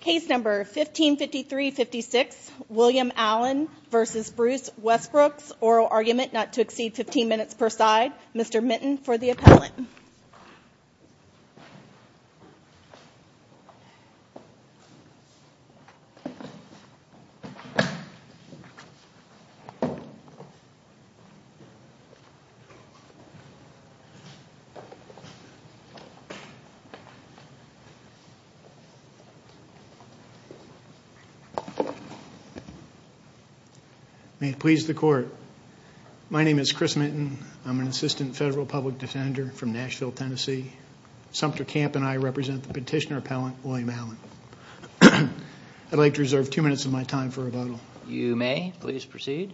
Case number 1553-56, William Allen v. Bruce Westbrooks, oral argument not to exceed 15 minutes per side, Mr. Minton for the appellant. May it please the court, my name is Chris Minton, I'm an assistant federal public defender from Nashville, Tennessee. Sumter Camp and I represent the petitioner appellant, William Allen. I'd like to reserve two minutes of my time for rebuttal. You may, please proceed.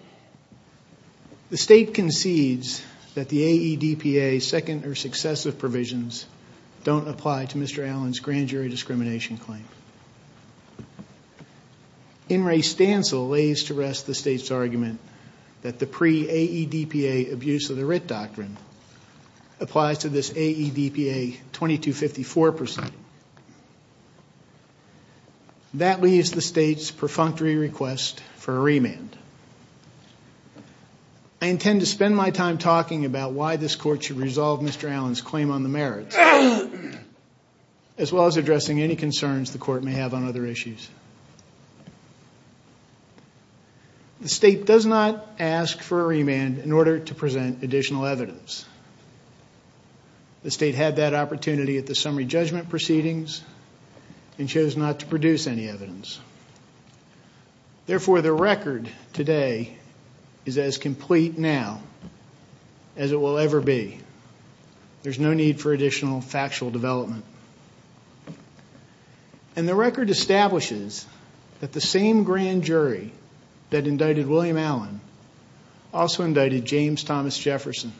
The state concedes that the AEDPA second or successive provisions don't apply to Mr. Allen's grand jury discrimination claim. In re stancil lays to rest the state's argument that the pre-AEDPA abuse of the writ doctrine applies to this AEDPA 2254 proceeding. That leaves the state's perfunctory request for a remand. I intend to spend my time talking about why this court should resolve Mr. Allen's claim on the merits, as well as addressing any concerns the court may have on other issues. The state does not ask for a remand in order to present additional evidence. The state had that opportunity at the summary judgment proceedings and chose not to produce any evidence. Therefore, the record today is as complete now as it will ever be. There's no need for additional factual development. And the record establishes that the same grand jury that indicted William Allen also indicted James Thomas Jefferson.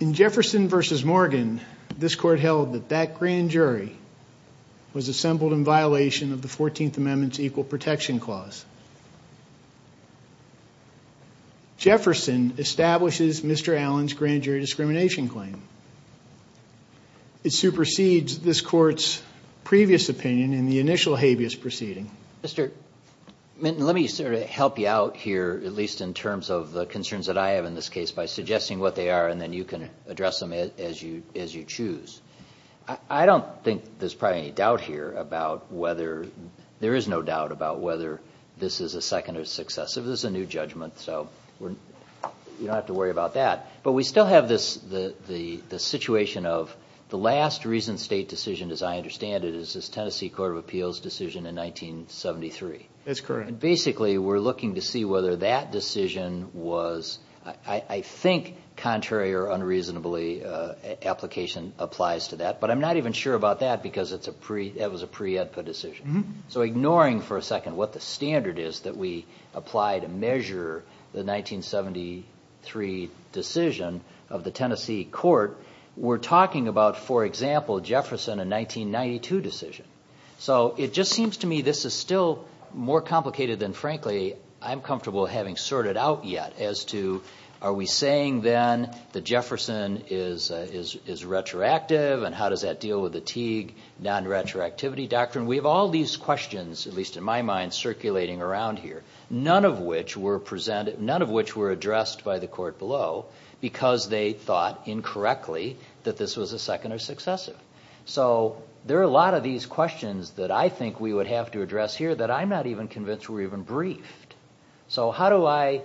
In Jefferson versus Morgan, this court held that that grand jury was assembled in violation of the 14th Amendment's equal protection clause. Jefferson establishes Mr. Allen's grand jury discrimination claim. It supersedes this court's previous opinion in the initial habeas proceeding. Mr. Minton, let me sort of help you out here, at least in terms of the concerns that I have in this case, by suggesting what they are and then you can address them as you choose. I don't think there's probably any doubt here about whether, there is no doubt about whether this is a second or successive. This is a new judgment, so you don't have to worry about that. But we still have this situation of the last recent state decision, as I understand it, is this Tennessee Court of Appeals decision in 1973. That's correct. Basically, we're looking to see whether that decision was, I think, contrary or unreasonably, application applies to that. But I'm not even sure about that because that was a pre-EDPA decision. So ignoring for a second what the standard is that we apply to measure the 1973 decision of the Tennessee Court, we're talking about, for example, Jefferson in 1992 decision. So it just seems to me this is still more complicated than, frankly, I'm comfortable having sorted out yet as to are we saying then that Jefferson is retroactive and how does that deal with the Teague non-retroactivity doctrine. We have all these questions, at least in my mind, circulating around here, none of which were addressed by the court below because they thought, incorrectly, that this was a second or successive. So there are a lot of these questions that I think we would have to address here that I'm not even convinced were even briefed. So how do I,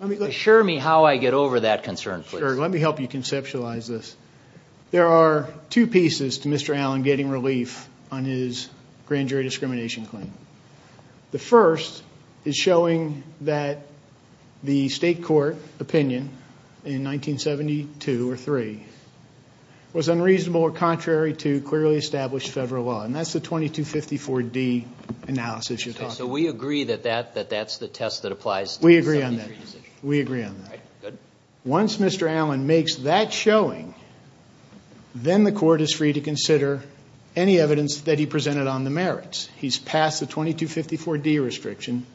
assure me how I get over that concern, please. Sure, let me help you conceptualize this. There are two pieces to Mr. Allen getting relief on his grand jury discrimination claim. The first is showing that the state court opinion in 1972 or 3 was unreasonable or contrary to clearly established federal law. And that's the 2254D analysis you're talking about. So we agree that that's the test that applies to the 1973 decision. We agree on that. We agree on that. Once Mr. Allen makes that showing, then the court is free to consider any evidence that he presented on the merits. He's passed the 2254D restriction.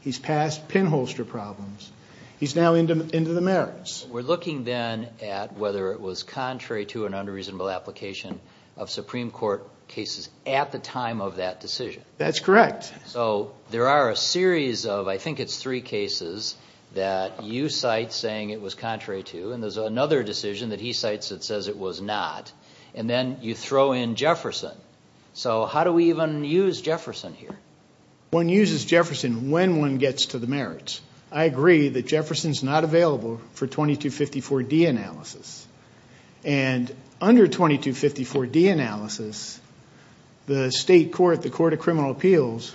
He's passed pinholster problems. He's now into the merits. We're looking then at whether it was contrary to an unreasonable application of Supreme Court cases at the time of that decision. That's correct. So there are a series of, I think it's three cases, that you cite saying it was contrary to. And there's another decision that he cites that says it was not. And then you throw in Jefferson. So how do we even use Jefferson here? One uses Jefferson when one gets to the merits. I agree that Jefferson's not available for 2254D analysis. And under 2254D analysis, the state court, the court of criminal appeals,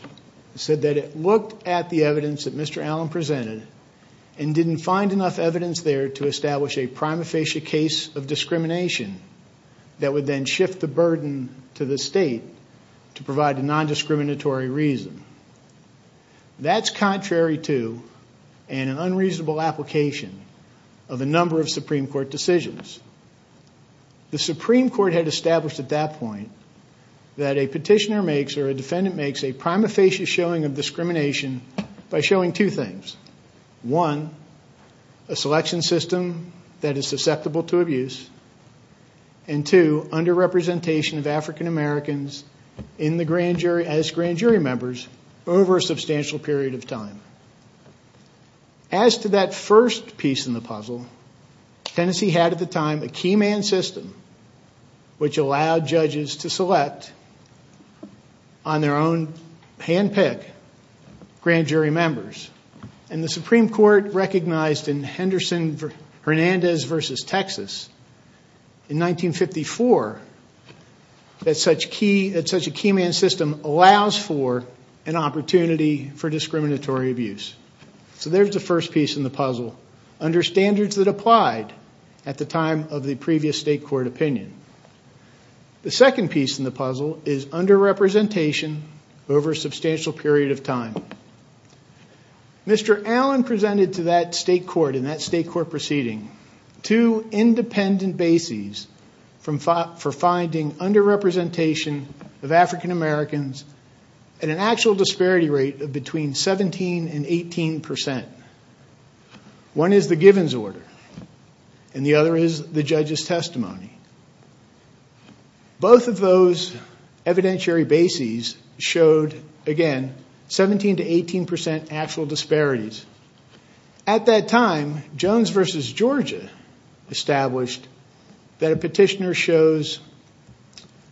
said that it looked at the evidence that Mr. Allen presented and didn't find enough evidence there to establish a prima facie case of discrimination that would then shift the burden to the state to provide a nondiscriminatory reason. That's contrary to an unreasonable application of a number of Supreme Court decisions. The Supreme Court had established at that point that a petitioner makes or a defendant makes a prima facie showing of discrimination by showing two things. One, a selection system that is susceptible to abuse. And two, underrepresentation of African Americans as grand jury members over a substantial period of time. As to that first piece in the puzzle, Tennessee had at the time a key man system which allowed judges to select on their own handpick grand jury members. And the Supreme Court recognized in Henderson-Hernandez versus Texas in 1954 that such a key man system allows for an opportunity for discriminatory abuse. So there's the first piece in the puzzle. Understanders that applied at the time of the previous state court opinion. The second piece in the puzzle is underrepresentation over a substantial period of time. Mr. Allen presented to that state court in that state court proceeding two independent bases for finding underrepresentation of African Americans at an actual disparity rate of between 17 and 18 percent. One is the Givens order and the other is the judge's testimony. Both of those evidentiary bases showed, again, 17 to 18 percent actual disparities. At that time, Jones versus Georgia established that a petitioner shows,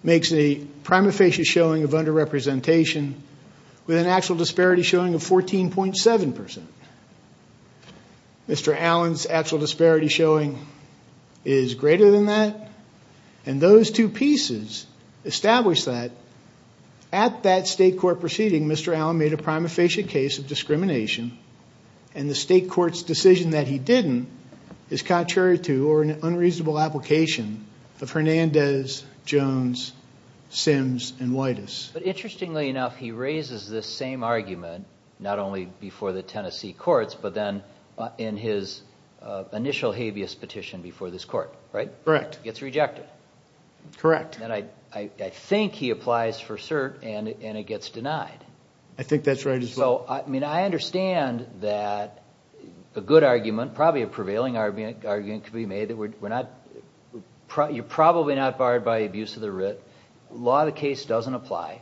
makes a prima facie showing of underrepresentation with an actual disparity showing of 14.7 percent. Mr. Allen's actual disparity showing is greater than that. And those two pieces established that at that state court proceeding, Mr. Allen made a prima facie case of discrimination and the state court's decision that he didn't is contrary to or an unreasonable application of Hernandez, Jones, Sims, and Whitus. But interestingly enough, he raises this same argument not only before the Tennessee courts, but then in his initial habeas petition before this court, right? Correct. He gets rejected. Correct. And I think he applies for cert and it gets denied. I think that's right as well. So, I mean, I understand that a good argument, probably a prevailing argument, could be made that you're probably not barred by abuse of the writ. The law of the case doesn't apply.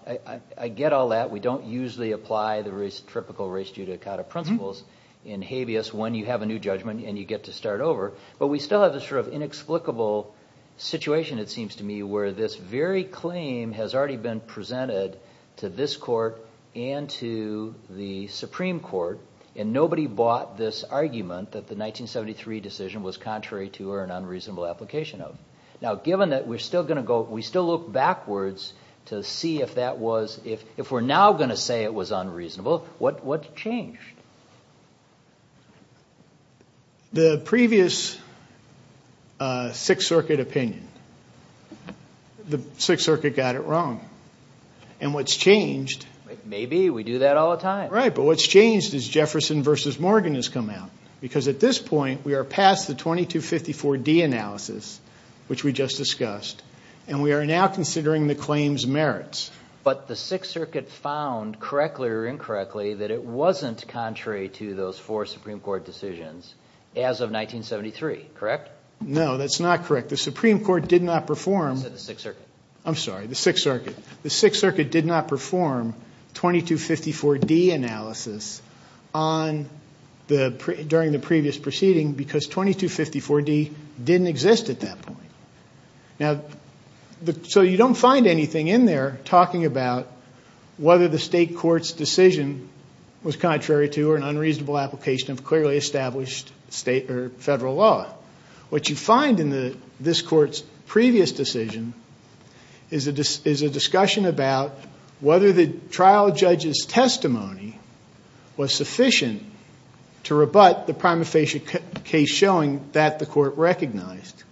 I get all that. We don't usually apply the typical race judicata principles in habeas when you have a new judgment and you get to start over. But we still have this sort of inexplicable situation, it seems to me, where this very claim has already been presented to this court and to the Supreme Court and nobody bought this argument that the 1973 decision was contrary to or an unreasonable application of. Now, given that we're still going to go, we still look backwards to see if that was, if we're now going to say it was unreasonable, what's changed? The previous Sixth Circuit opinion, the Sixth Circuit got it wrong. And what's changed... Maybe. We do that all the time. Right. But what's changed is Jefferson v. Morgan has come out. Because at this point, we are past the 2254D analysis, which we just discussed, and we are now considering the claim's merits. But the Sixth Circuit found, correctly or incorrectly, that it wasn't contrary to those four Supreme Court decisions as of 1973, correct? No, that's not correct. The Supreme Court did not perform... You said the Sixth Circuit. I'm sorry, the Sixth Circuit. The Sixth Circuit did not perform 2254D analysis during the previous proceeding because 2254D didn't exist at that point. Now, so you don't find anything in there talking about whether the state court's decision was contrary to or an unreasonable application of clearly established state or federal law. What you find in this court's previous decision is a discussion about whether the trial judge's testimony was sufficient to rebut the prima facie case in showing that the court recognized.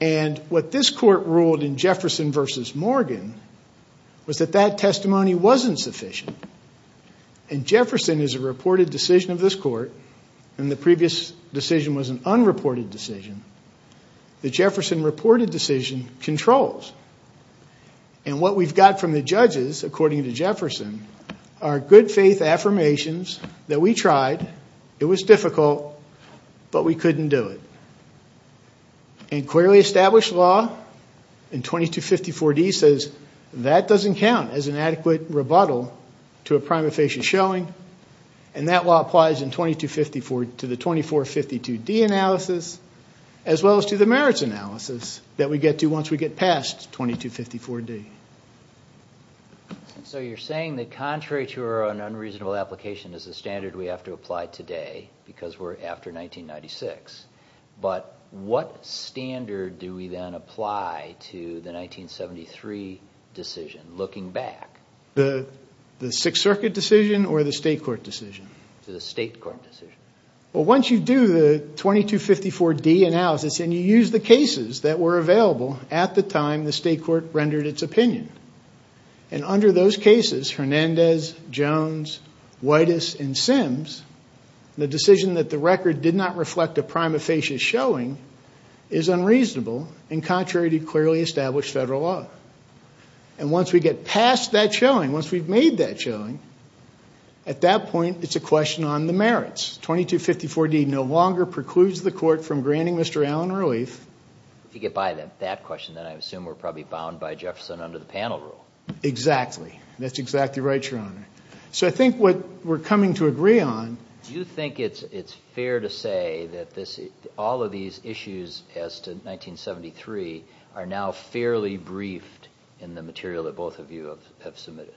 And what this court ruled in Jefferson v. Morgan was that that testimony wasn't sufficient. And Jefferson is a reported decision of this court, and the previous decision was an unreported decision. The Jefferson reported decision controls. And what we've got from the judges, according to Jefferson, are good faith affirmations that we tried, it was difficult, but we couldn't do it. And clearly established law in 2254D says that doesn't count as an adequate rebuttal to a prima facie showing, and that law applies to the 2452D analysis as well as to the merits analysis that we get to once we get past 2254D. And so you're saying that contrary to or an unreasonable application is the standard we have to apply today because we're after 1996. But what standard do we then apply to the 1973 decision, looking back? The Sixth Circuit decision or the state court decision? The state court decision. Well, once you do the 2254D analysis and you use the cases that were available at the time the state court rendered its opinion, and under those cases, Hernandez, Jones, Whitus, and Sims, the decision that the record did not reflect a prima facie showing is unreasonable and contrary to clearly established federal law. And once we get past that showing, once we've made that showing, at that point it's a question on the merits. 2254D no longer precludes the court from granting Mr. Allen relief. If you get by that question, then I assume we're probably bound by Jefferson under the panel rule. Exactly. That's exactly right, Your Honor. So I think what we're coming to agree on... Do you think it's fair to say that all of these issues as to 1973 are now fairly briefed in the material that both of you have submitted?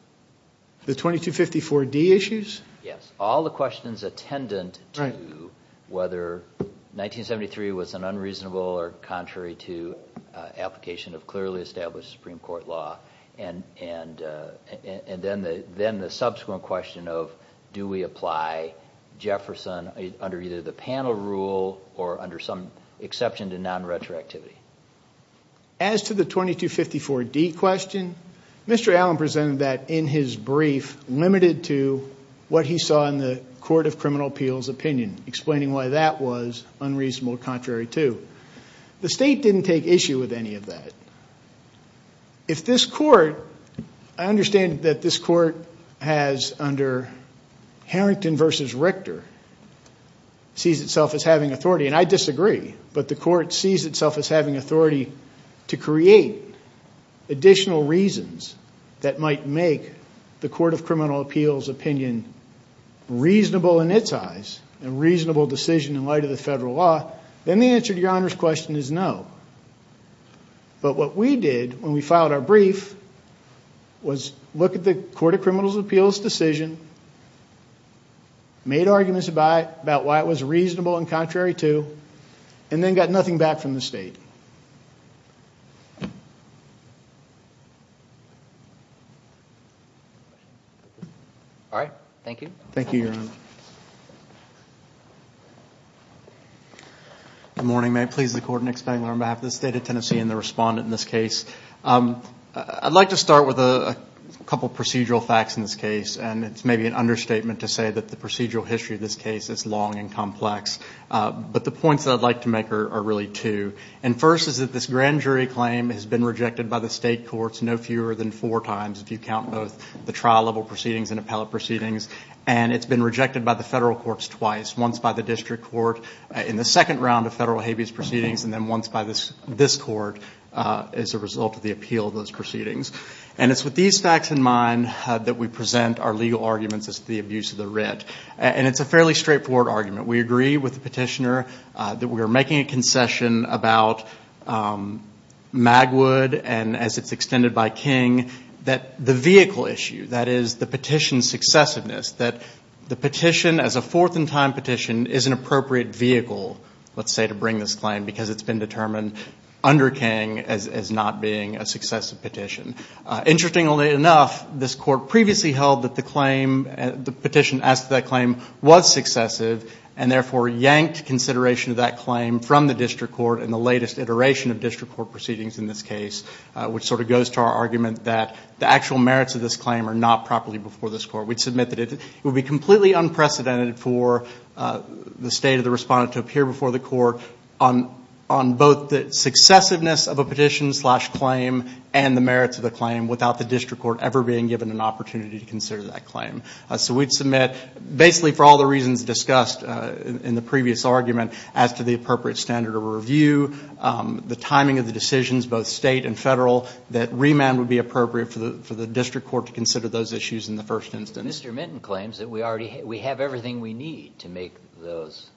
The 2254D issues? Yes, all the questions attendant to whether 1973 was an unreasonable or contrary to application of clearly established Supreme Court law, and then the subsequent question of do we apply Jefferson under either the panel rule or under some exception to non-retroactivity. As to the 2254D question, Mr. Allen presented that in his brief limited to what he saw in the Court of Criminal Appeals' opinion, explaining why that was unreasonable or contrary to. The State didn't take issue with any of that. If this Court... I understand that this Court has under Harrington v. Richter sees itself as having authority, and I disagree, but the Court sees itself as having authority to create additional reasons that might make the Court of Criminal Appeals' opinion reasonable in its eyes and reasonable decision in light of the federal law, then the answer to Your Honor's question is no. But what we did when we filed our brief was look at the Court of Criminal Appeals' decision, made arguments about why it was reasonable and contrary to, and then got nothing back from the State. All right. Thank you. Thank you, Your Honor. Good morning. May it please the Court, Nick Spangler, on behalf of the State of Tennessee and the respondent in this case. I'd like to start with a couple of procedural facts in this case, and it's maybe an understatement to say that the procedural history of this case is long and complex. But the points that I'd like to make are really two. First is that this grand jury claim has been rejected by the State courts no fewer than four times, if you count both the trial-level proceedings and appellate proceedings. And it's been rejected by the federal courts twice, once by the district court in the second round of federal habeas proceedings and then once by this court as a result of the appeal of those proceedings. And it's with these facts in mind that we present our legal arguments as to the abuse of the writ. And it's a fairly straightforward argument. We agree with the petitioner that we are making a concession about Magwood and, as it's extended by King, that the vehicle issue, that is the petition's successiveness, that the petition as a fourth-in-time petition is an appropriate vehicle, let's say, to bring this claim because it's been determined under King as not being a successive petition. Interestingly enough, this court previously held that the petition as to that claim was successive and therefore yanked consideration of that claim from the district court in the latest iteration of district court proceedings in this case, which sort of goes to our argument that the actual merits of this claim are not properly before this court. We'd submit that it would be completely unprecedented for the state of the respondent to appear before the court on both the successiveness of a petition-slash-claim and the merits of the claim without the district court ever being given an opportunity to consider that claim. So we'd submit, basically for all the reasons discussed in the previous argument, as to the appropriate standard of review, the timing of the decisions, both state and federal, that remand would be appropriate for the district court to consider those issues in the first instance. Mr. Minton claims that we have everything we need to make those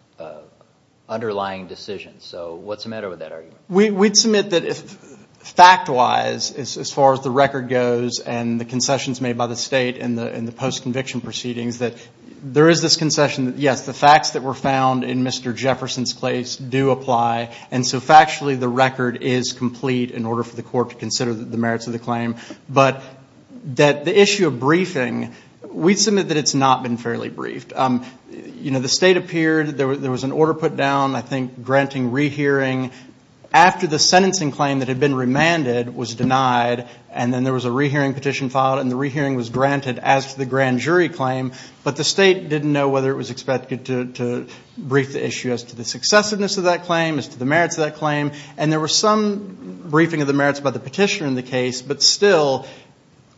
underlying decisions. So what's the matter with that argument? We'd submit that fact-wise, as far as the record goes and the concessions made by the state in the post-conviction proceedings, that there is this concession that, yes, the facts that were found in Mr. Jefferson's case do apply, and so factually the record is complete in order for the court to consider the merits of the claim, but that the issue of briefing, we'd submit that it's not been fairly briefed. You know, the state appeared, there was an order put down, I think, granting rehearing after the sentencing claim that had been remanded was denied, and then there was a rehearing petition filed and the rehearing was granted as to the grand jury claim, but the state didn't know whether it was expected to brief the issue as to the successiveness of that claim, as to the merits of that claim, and there was some briefing of the merits by the petitioner in the case, but still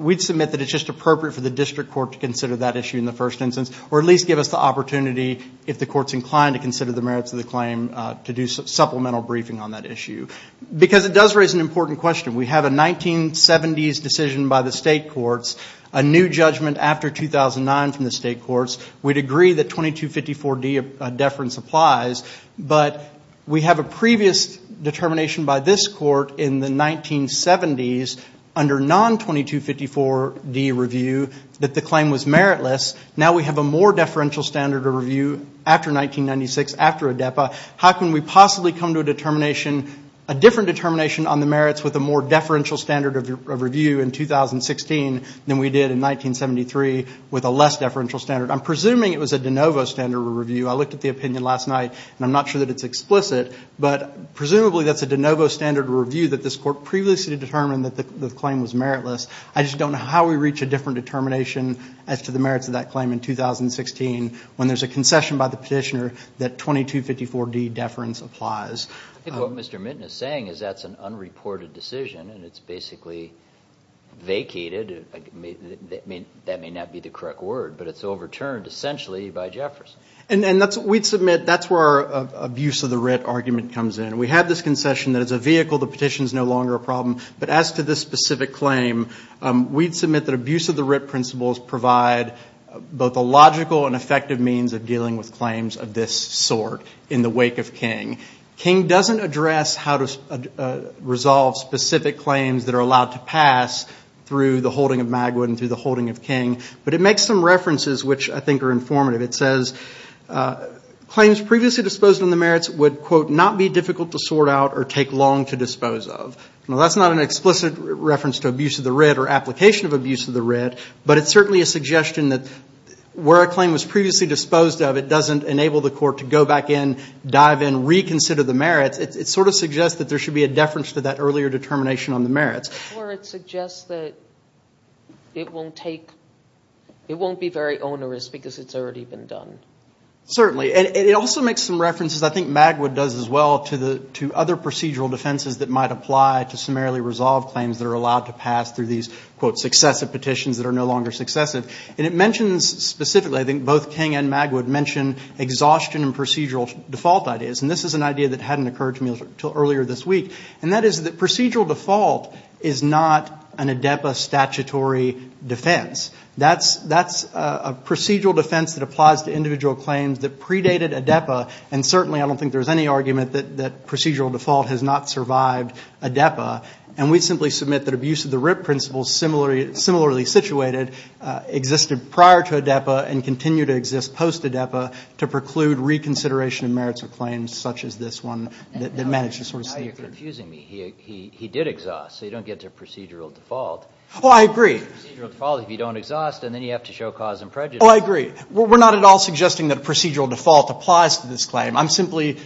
we'd submit that it's just appropriate for the district court to consider that issue in the first instance, or at least give us the opportunity, if the court's inclined to consider the merits of the claim, to do supplemental briefing on that issue. Because it does raise an important question. We have a 1970s decision by the state courts, a new judgment after 2009 from the state courts. We'd agree that 2254D deference applies, but we have a previous determination by this court in the 1970s, under non-2254D review, that the claim was meritless. Now we have a more deferential standard of review after 1996, after ADEPA. How can we possibly come to a determination, a different determination on the merits with a more deferential standard of review in 2016 than we did in 1973 with a less deferential standard? I'm presuming it was a de novo standard of review. I looked at the opinion last night, and I'm not sure that it's explicit, but presumably that's a de novo standard of review that this court previously determined that the claim was meritless. I just don't know how we reach a different determination as to the merits of that claim in 2016, when there's a concession by the petitioner that 2254D deference applies. I think what Mr. Mitton is saying is that's an unreported decision, and it's basically vacated. That may not be the correct word, but it's overturned essentially by Jefferson. We'd submit that's where our abuse of the writ argument comes in. We have this concession that it's a vehicle. The petition is no longer a problem. But as to this specific claim, we'd submit that abuse of the writ principles provide both a logical King doesn't address how to resolve specific claims that are allowed to pass through the holding of Magwood and through the holding of King, but it makes some references which I think are informative. It says claims previously disposed of in the merits would not be difficult to sort out or take long to dispose of. Now, that's not an explicit reference to abuse of the writ or application of abuse of the writ, but it's certainly a suggestion that where a claim was previously disposed of, but it doesn't enable the court to go back in, dive in, reconsider the merits, it sort of suggests that there should be a deference to that earlier determination on the merits. Or it suggests that it won't take, it won't be very onerous because it's already been done. Certainly. And it also makes some references, I think, Magwood does as well, to other procedural defenses that might apply to summarily resolved claims that are allowed to pass through these, quote, successive petitions that are no longer successive. And it mentions specifically, I think both King and Magwood, mention exhaustion and procedural default ideas. And this is an idea that hadn't occurred to me until earlier this week. And that is that procedural default is not an ADEPA statutory defense. That's a procedural defense that applies to individual claims that predated ADEPA. And certainly I don't think there's any argument that procedural default has not survived ADEPA. And we simply submit that abuse of the RIP principle, similarly situated, existed prior to ADEPA and continue to exist post-ADEPA to preclude reconsideration of merits of claims such as this one that managed to sort of sneak through. And now you're confusing me. He did exhaust, so you don't get to procedural default. Oh, I agree. Procedural default, if you don't exhaust, and then you have to show cause and prejudice. Oh, I agree. We're not at all suggesting that procedural default applies to this claim. I'm simply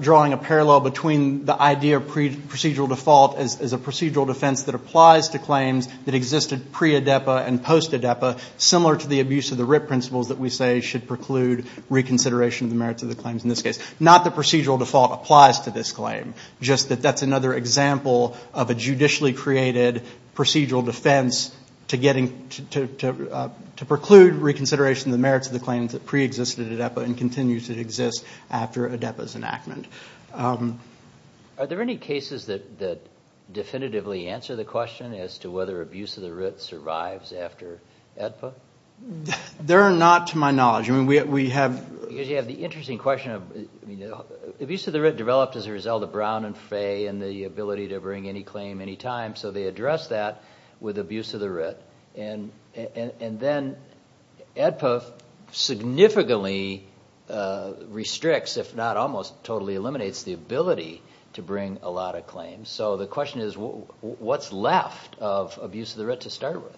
drawing a parallel between the idea of procedural default as a procedural defense that applies to claims that existed pre-ADEPA and post-ADEPA, similar to the abuse of the RIP principles that we say should preclude reconsideration of the merits of the claims in this case. Not that procedural default applies to this claim, just that that's another example of a judicially created procedural defense to preclude reconsideration of the merits of the claims that preexisted ADEPA and continue to exist after ADEPA's enactment. Are there any cases that definitively answer the question as to whether abuse of the RIP survives after ADEPA? There are not to my knowledge. Because you have the interesting question of abuse of the RIP developed as a result of Brown and Fay and the ability to bring any claim any time, so they address that with abuse of the RIP. And then ADEPA significantly restricts, if not almost totally eliminates, the ability to bring a lot of claims. So the question is, what's left of abuse of the RIP to start with?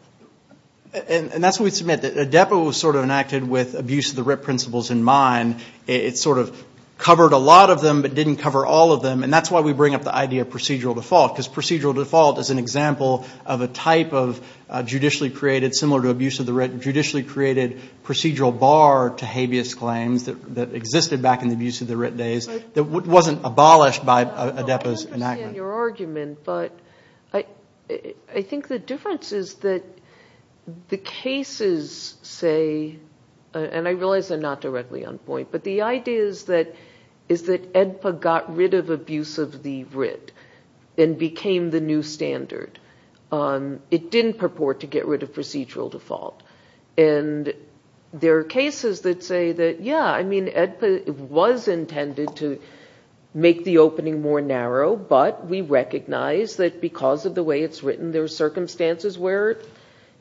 And that's what we submit. ADEPA was sort of enacted with abuse of the RIP principles in mind. It sort of covered a lot of them but didn't cover all of them. And that's why we bring up the idea of procedural default. Because procedural default is an example of a type of judicially created, similar to abuse of the RIP, judicially created procedural bar to habeas claims that existed back in the abuse of the RIP days that wasn't abolished by ADEPA's enactment. I understand your argument. But I think the difference is that the cases say, and I realize I'm not directly on point, but the idea is that ADEPA got rid of abuse of the RIP and became the new standard. It didn't purport to get rid of procedural default. And there are cases that say that, yeah, I mean, ADEPA was intended to make the opening more narrow, but we recognize that because of the way it's written, there are circumstances where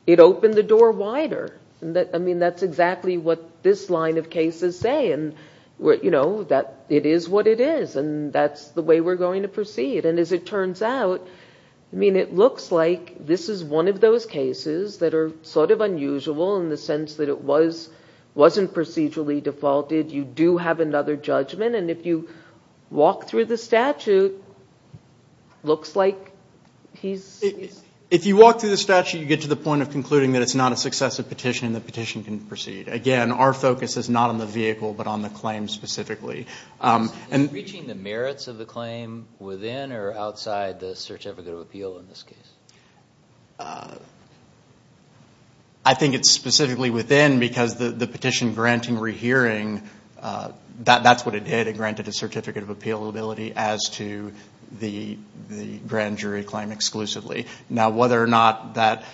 it opened the door wider. I mean, that's exactly what this line of cases say. And, you know, it is what it is. And that's the way we're going to proceed. And as it turns out, I mean, it looks like this is one of those cases that are sort of unusual in the sense that it wasn't procedurally defaulted. You do have another judgment. And if you walk through the statute, it looks like he's ‑‑ If you walk through the statute, you get to the point of concluding that it's not a successive petition and the petition can proceed. Again, our focus is not on the vehicle but on the claim specifically. Is it reaching the merits of the claim within or outside the certificate of appeal in this case? I think it's specifically within because the petition granting rehearing, that's what it did. It granted a certificate of appealability as to the grand jury claim exclusively. Now, whether or not that ‑‑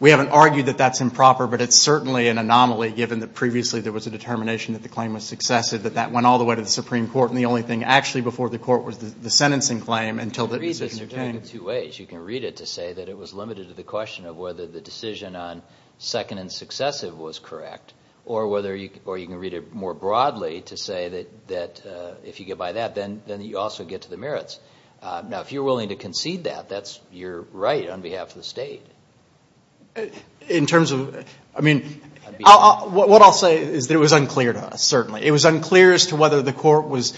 we haven't argued that that's improper, but it's certainly an anomaly given that previously there was a determination that the claim was successive, that that went all the way to the Supreme Court and the only thing actually before the court was the sentencing claim until the decision was made. You can read this in two ways. You can read it to say that it was limited to the question of whether the decision on second and successive was correct or you can read it more broadly to say that if you get by that, then you also get to the merits. Now, if you're willing to concede that, that's your right on behalf of the state. In terms of ‑‑ I mean, what I'll say is that it was unclear to us, certainly. It was unclear as to whether the court was ‑‑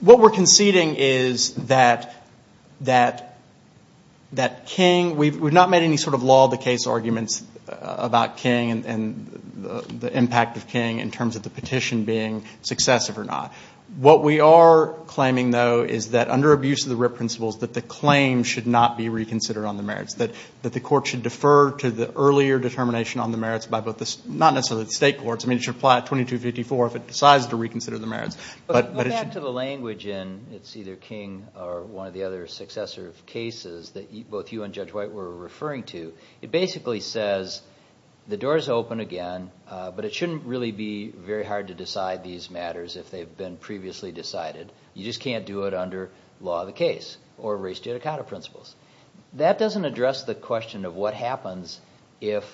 what we're conceding is that King, we've not made any sort of law of the case arguments about King and the impact of King in terms of the petition being successive or not. What we are claiming, though, is that under abuse of the RIP principles, that the claim should not be reconsidered on the merits, that the court should defer to the earlier determination on the merits by both the ‑‑ not necessarily the state courts. I mean, it should apply at 2254 if it decides to reconsider the merits. Go back to the language in it's either King or one of the other successive cases that both you and Judge White were referring to. It basically says the door is open again, but it shouldn't really be very hard to decide these matters if they've been previously decided. You just can't do it under law of the case or race judicata principles. That doesn't address the question of what happens if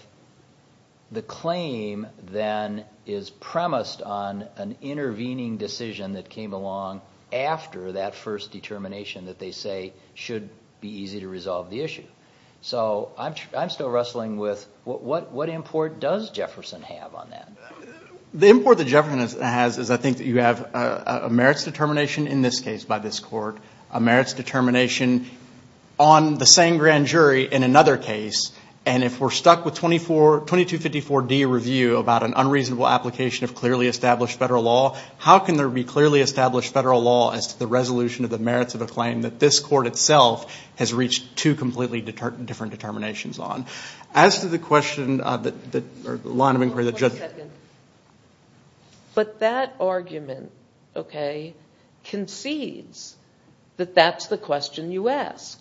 the claim then is premised on an intervening decision that came along after that first determination that they say should be easy to resolve the issue. So I'm still wrestling with what import does Jefferson have on that? The import that Jefferson has is I think that you have a merits determination in this case by this court, a merits determination on the same grand jury in another case, and if we're stuck with 2254D review about an unreasonable application of clearly established federal law, how can there be clearly established federal law as to the resolution of the merits of a claim that this court itself has reached two completely different determinations on? As to the question or line of inquiry that Judge ‑‑ One second. But that argument, okay, concedes that that's the question you ask.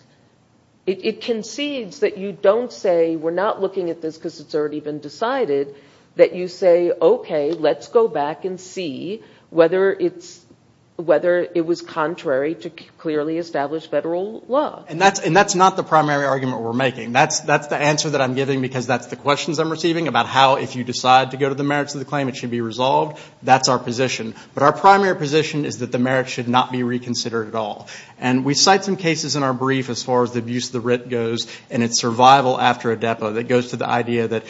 It concedes that you don't say we're not looking at this because it's already been decided, that you say, okay, let's go back and see whether it was contrary to clearly established federal law. And that's not the primary argument we're making. That's the answer that I'm giving because that's the questions I'm receiving about how if you decide to go to the merits of the claim it should be resolved. That's our position. But our primary position is that the merits should not be reconsidered at all. And we cite some cases in our brief as far as the abuse of the writ goes and its survival after ADEPA that goes to the idea that,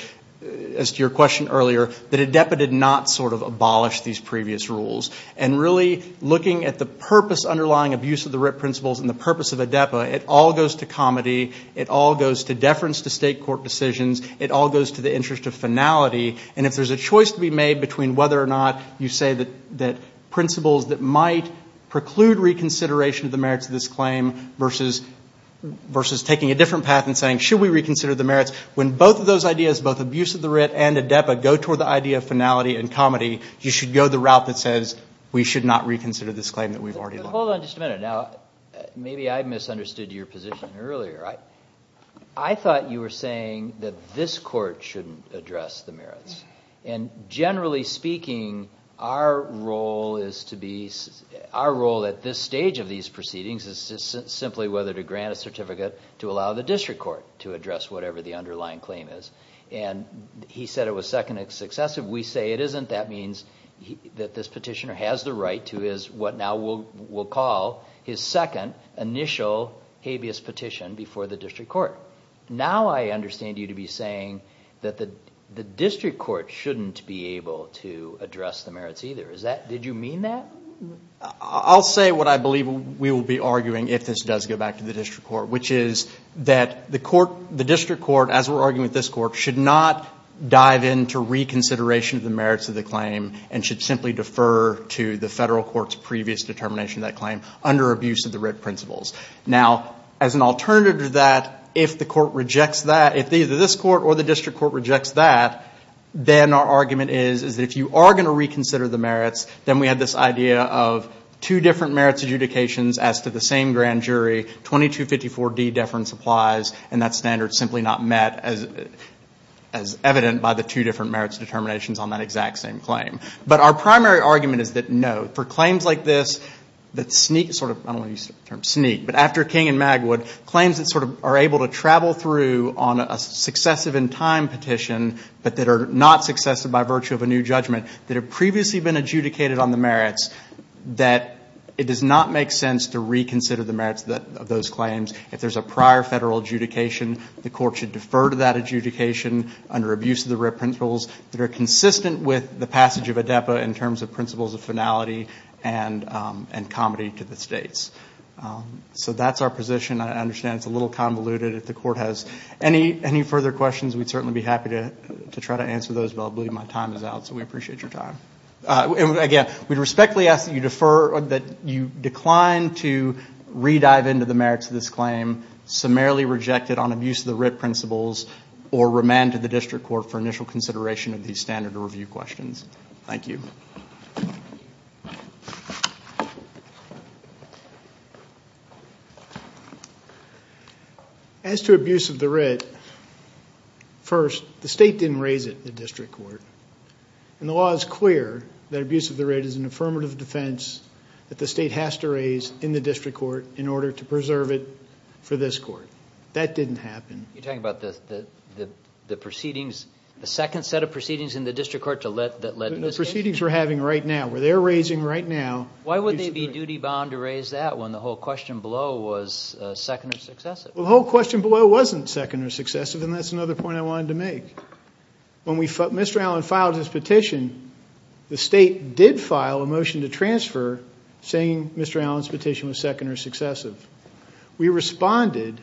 as to your question earlier, that ADEPA did not sort of abolish these previous rules. And really looking at the purpose underlying abuse of the writ principles and the purpose of ADEPA, it all goes to comedy. It all goes to deference to state court decisions. It all goes to the interest of finality. And if there's a choice to be made between whether or not you say that principles that might preclude reconsideration of the merits of this claim versus taking a different path and saying should we reconsider the merits, when both of those ideas, both abuse of the writ and ADEPA, go toward the idea of finality and comedy, you should go the route that says we should not reconsider this claim that we've already lost. Hold on just a minute. Now, maybe I misunderstood your position earlier. I thought you were saying that this court shouldn't address the merits. Generally speaking, our role at this stage of these proceedings is simply whether to grant a certificate to allow the district court to address whatever the underlying claim is. He said it was second successive. We say it isn't. That means that this petitioner has the right to his, what now we'll call his second initial habeas petition before the district court. Now I understand you to be saying that the district court shouldn't be able to address the merits either. Did you mean that? I'll say what I believe we will be arguing if this does go back to the district court, which is that the district court, as we're arguing with this court, should not dive into reconsideration of the merits of the claim and should simply defer to the federal court's previous determination of that claim under abuse of the writ principles. Now, as an alternative to that, if the court rejects that, if either this court or the district court rejects that, then our argument is that if you are going to reconsider the merits, then we have this idea of two different merits adjudications as to the same grand jury, 2254D deference applies, and that standard is simply not met as evident by the two different merits determinations on that exact same claim. But our primary argument is that no. For claims like this that sneak sort of, I don't want to use the term sneak, but after King and Magwood, claims that sort of are able to travel through on a successive in time petition but that are not successive by virtue of a new judgment, that have previously been adjudicated on the merits, that it does not make sense to reconsider the merits of those claims. If there's a prior federal adjudication, the court should defer to that adjudication under abuse of the writ principles that are consistent with the passage of ADEPA in terms of principles of finality and comedy to the states. So that's our position. I understand it's a little convoluted. If the court has any further questions, we'd certainly be happy to try to answer those, but I believe my time is out, so we appreciate your time. Again, we respectfully ask that you decline to re-dive into the merits of this claim, summarily reject it on abuse of the writ principles, or remand to the district court for initial consideration of these standard review questions. Thank you. As to abuse of the writ, first, the state didn't raise it in the district court, and the law is clear that abuse of the writ is an affirmative defense that the state has to raise in the district court in order to preserve it for this court. That didn't happen. You're talking about the proceedings, the second set of proceedings in the district court that led to this case? The proceedings we're having right now, where they're raising right now. Why would they be duty-bound to raise that when the whole question below was second or successive? Well, the whole question below wasn't second or successive, and that's another point I wanted to make. When Mr. Allen filed his petition, the state did file a motion to transfer saying Mr. Allen's petition was second or successive. We responded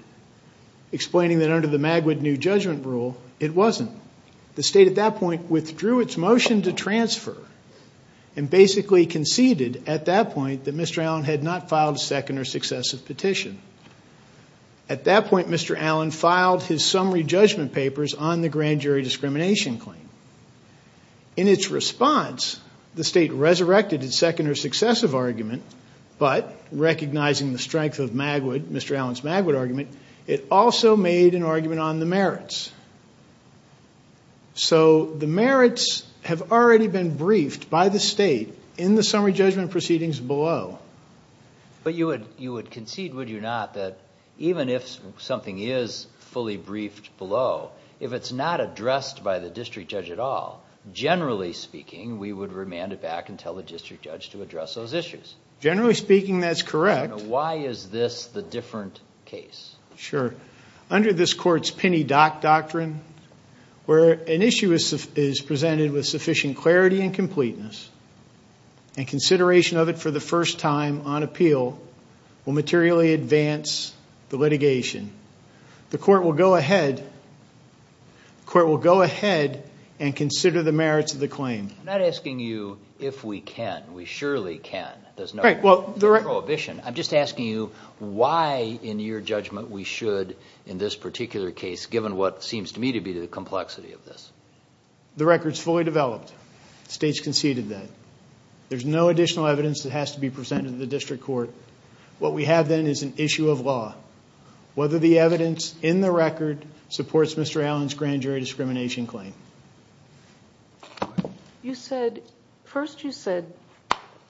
explaining that under the Magwood New Judgment Rule, it wasn't. The state at that point withdrew its motion to transfer and basically conceded at that point that Mr. Allen had not filed a second or successive petition. At that point, Mr. Allen filed his summary judgment papers on the grand jury discrimination claim. In its response, the state resurrected its second or successive argument, but recognizing the strength of Mr. Allen's Magwood argument, it also made an argument on the merits. The merits have already been briefed by the state in the summary judgment proceedings below. But you would concede, would you not, that even if something is fully briefed below, if it's not addressed by the district judge at all, generally speaking, we would remand it back and tell the district judge to address those issues? Generally speaking, that's correct. Why is this the different case? Sure. Under this court's Penny Dock Doctrine, where an issue is presented with sufficient clarity and completeness and consideration of it for the first time on appeal will materially advance the litigation, the court will go ahead and consider the merits of the claim. I'm not asking you if we can. We surely can. There's no prohibition. I'm just asking you why, in your judgment, we should, in this particular case, given what seems to me to be the complexity of this. The record's fully developed. The state's conceded that. There's no additional evidence that has to be presented to the district court. What we have, then, is an issue of law. Whether the evidence in the record supports Mr. Allen's grand jury discrimination claim. You said, first you said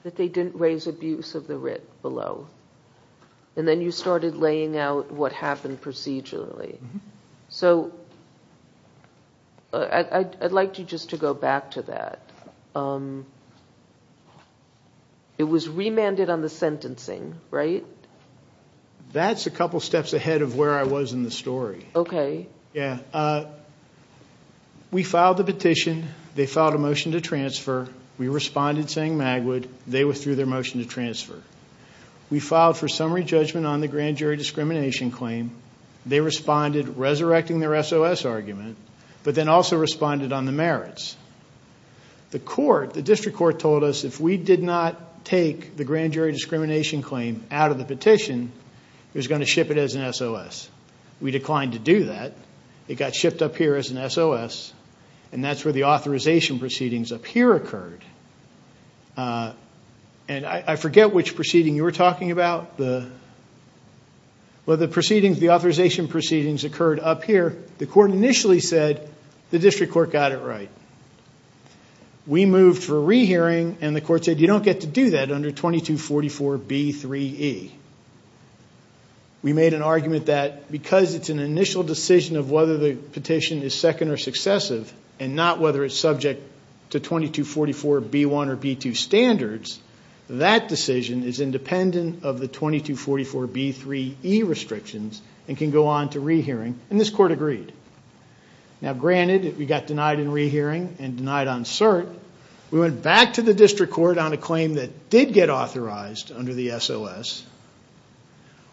that they didn't raise abuse of the writ below, and then you started laying out what happened procedurally. So I'd like you just to go back to that. It was remanded on the sentencing, right? That's a couple steps ahead of where I was in the story. Okay. Yeah. We filed the petition. They filed a motion to transfer. We responded saying Magwood. They withdrew their motion to transfer. We filed for summary judgment on the grand jury discrimination claim. They responded resurrecting their SOS argument, but then also responded on the merits. The court, the district court told us, if we did not take the grand jury discrimination claim out of the petition, it was going to ship it as an SOS. We declined to do that. It got shipped up here as an SOS, and that's where the authorization proceedings up here occurred. I forget which proceeding you were talking about. The authorization proceedings occurred up here. The court initially said the district court got it right. We moved for rehearing, and the court said you don't get to do that under 2244B3E. We made an argument that because it's an initial decision of whether the petition is second or successive and not whether it's subject to 2244B1 or B2 standards, that decision is independent of the 2244B3E restrictions and can go on to rehearing, and this court agreed. Now, granted, we got denied in rehearing and denied on cert. We went back to the district court on a claim that did get authorized under the SOS,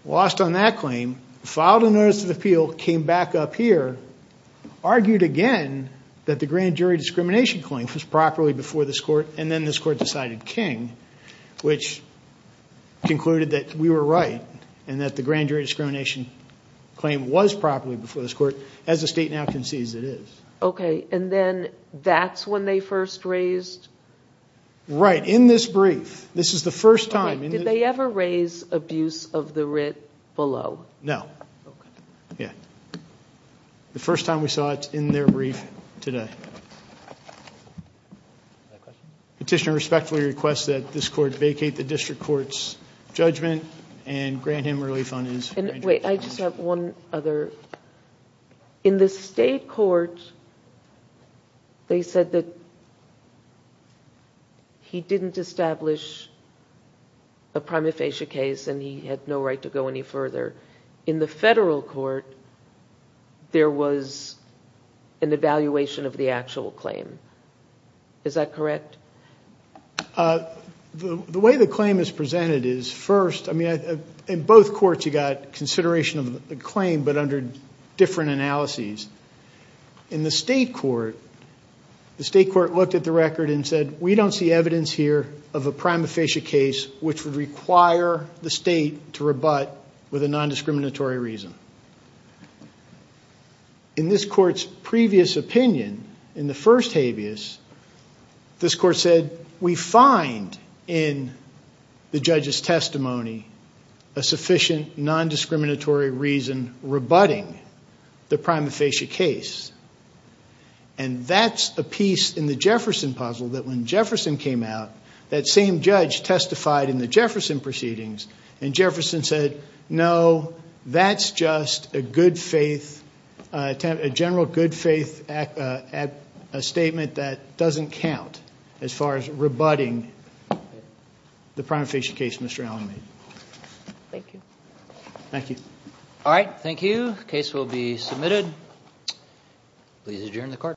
lost on that claim, filed a notice of appeal, came back up here, argued again that the grand jury discrimination claim was properly before this court, and then this court decided king, which concluded that we were right and that the grand jury discrimination claim was properly before this court, as the state now concedes it is. Okay, and then that's when they first raised? Right, in this brief. This is the first time. Did they ever raise abuse of the writ below? No. The first time we saw it in their brief today. Petitioner respectfully requests that this court vacate the district court's judgment and grant him relief on his grand jury discrimination. Wait, I just have one other. In the state court, they said that he didn't establish a prima facie case and he had no right to go any further. In the federal court, there was an evaluation of the actual claim. Is that correct? The way the claim is presented is, first, in both courts you got consideration of the claim, but under different analyses. In the state court, the state court looked at the record and said, we don't see evidence here of a prima facie case which would require the state to rebut with a nondiscriminatory reason. In this court's previous opinion, in the first habeas, this court said, we find in the judge's testimony a sufficient nondiscriminatory reason rebutting the prima facie case. And that's a piece in the Jefferson puzzle that when Jefferson came out, that same judge testified in the Jefferson proceedings, and Jefferson said, no, that's just a general good faith statement that doesn't count as far as rebutting the prima facie case Mr. Allin made. Thank you. Thank you. All right, thank you. The case will be submitted. Please adjourn the court.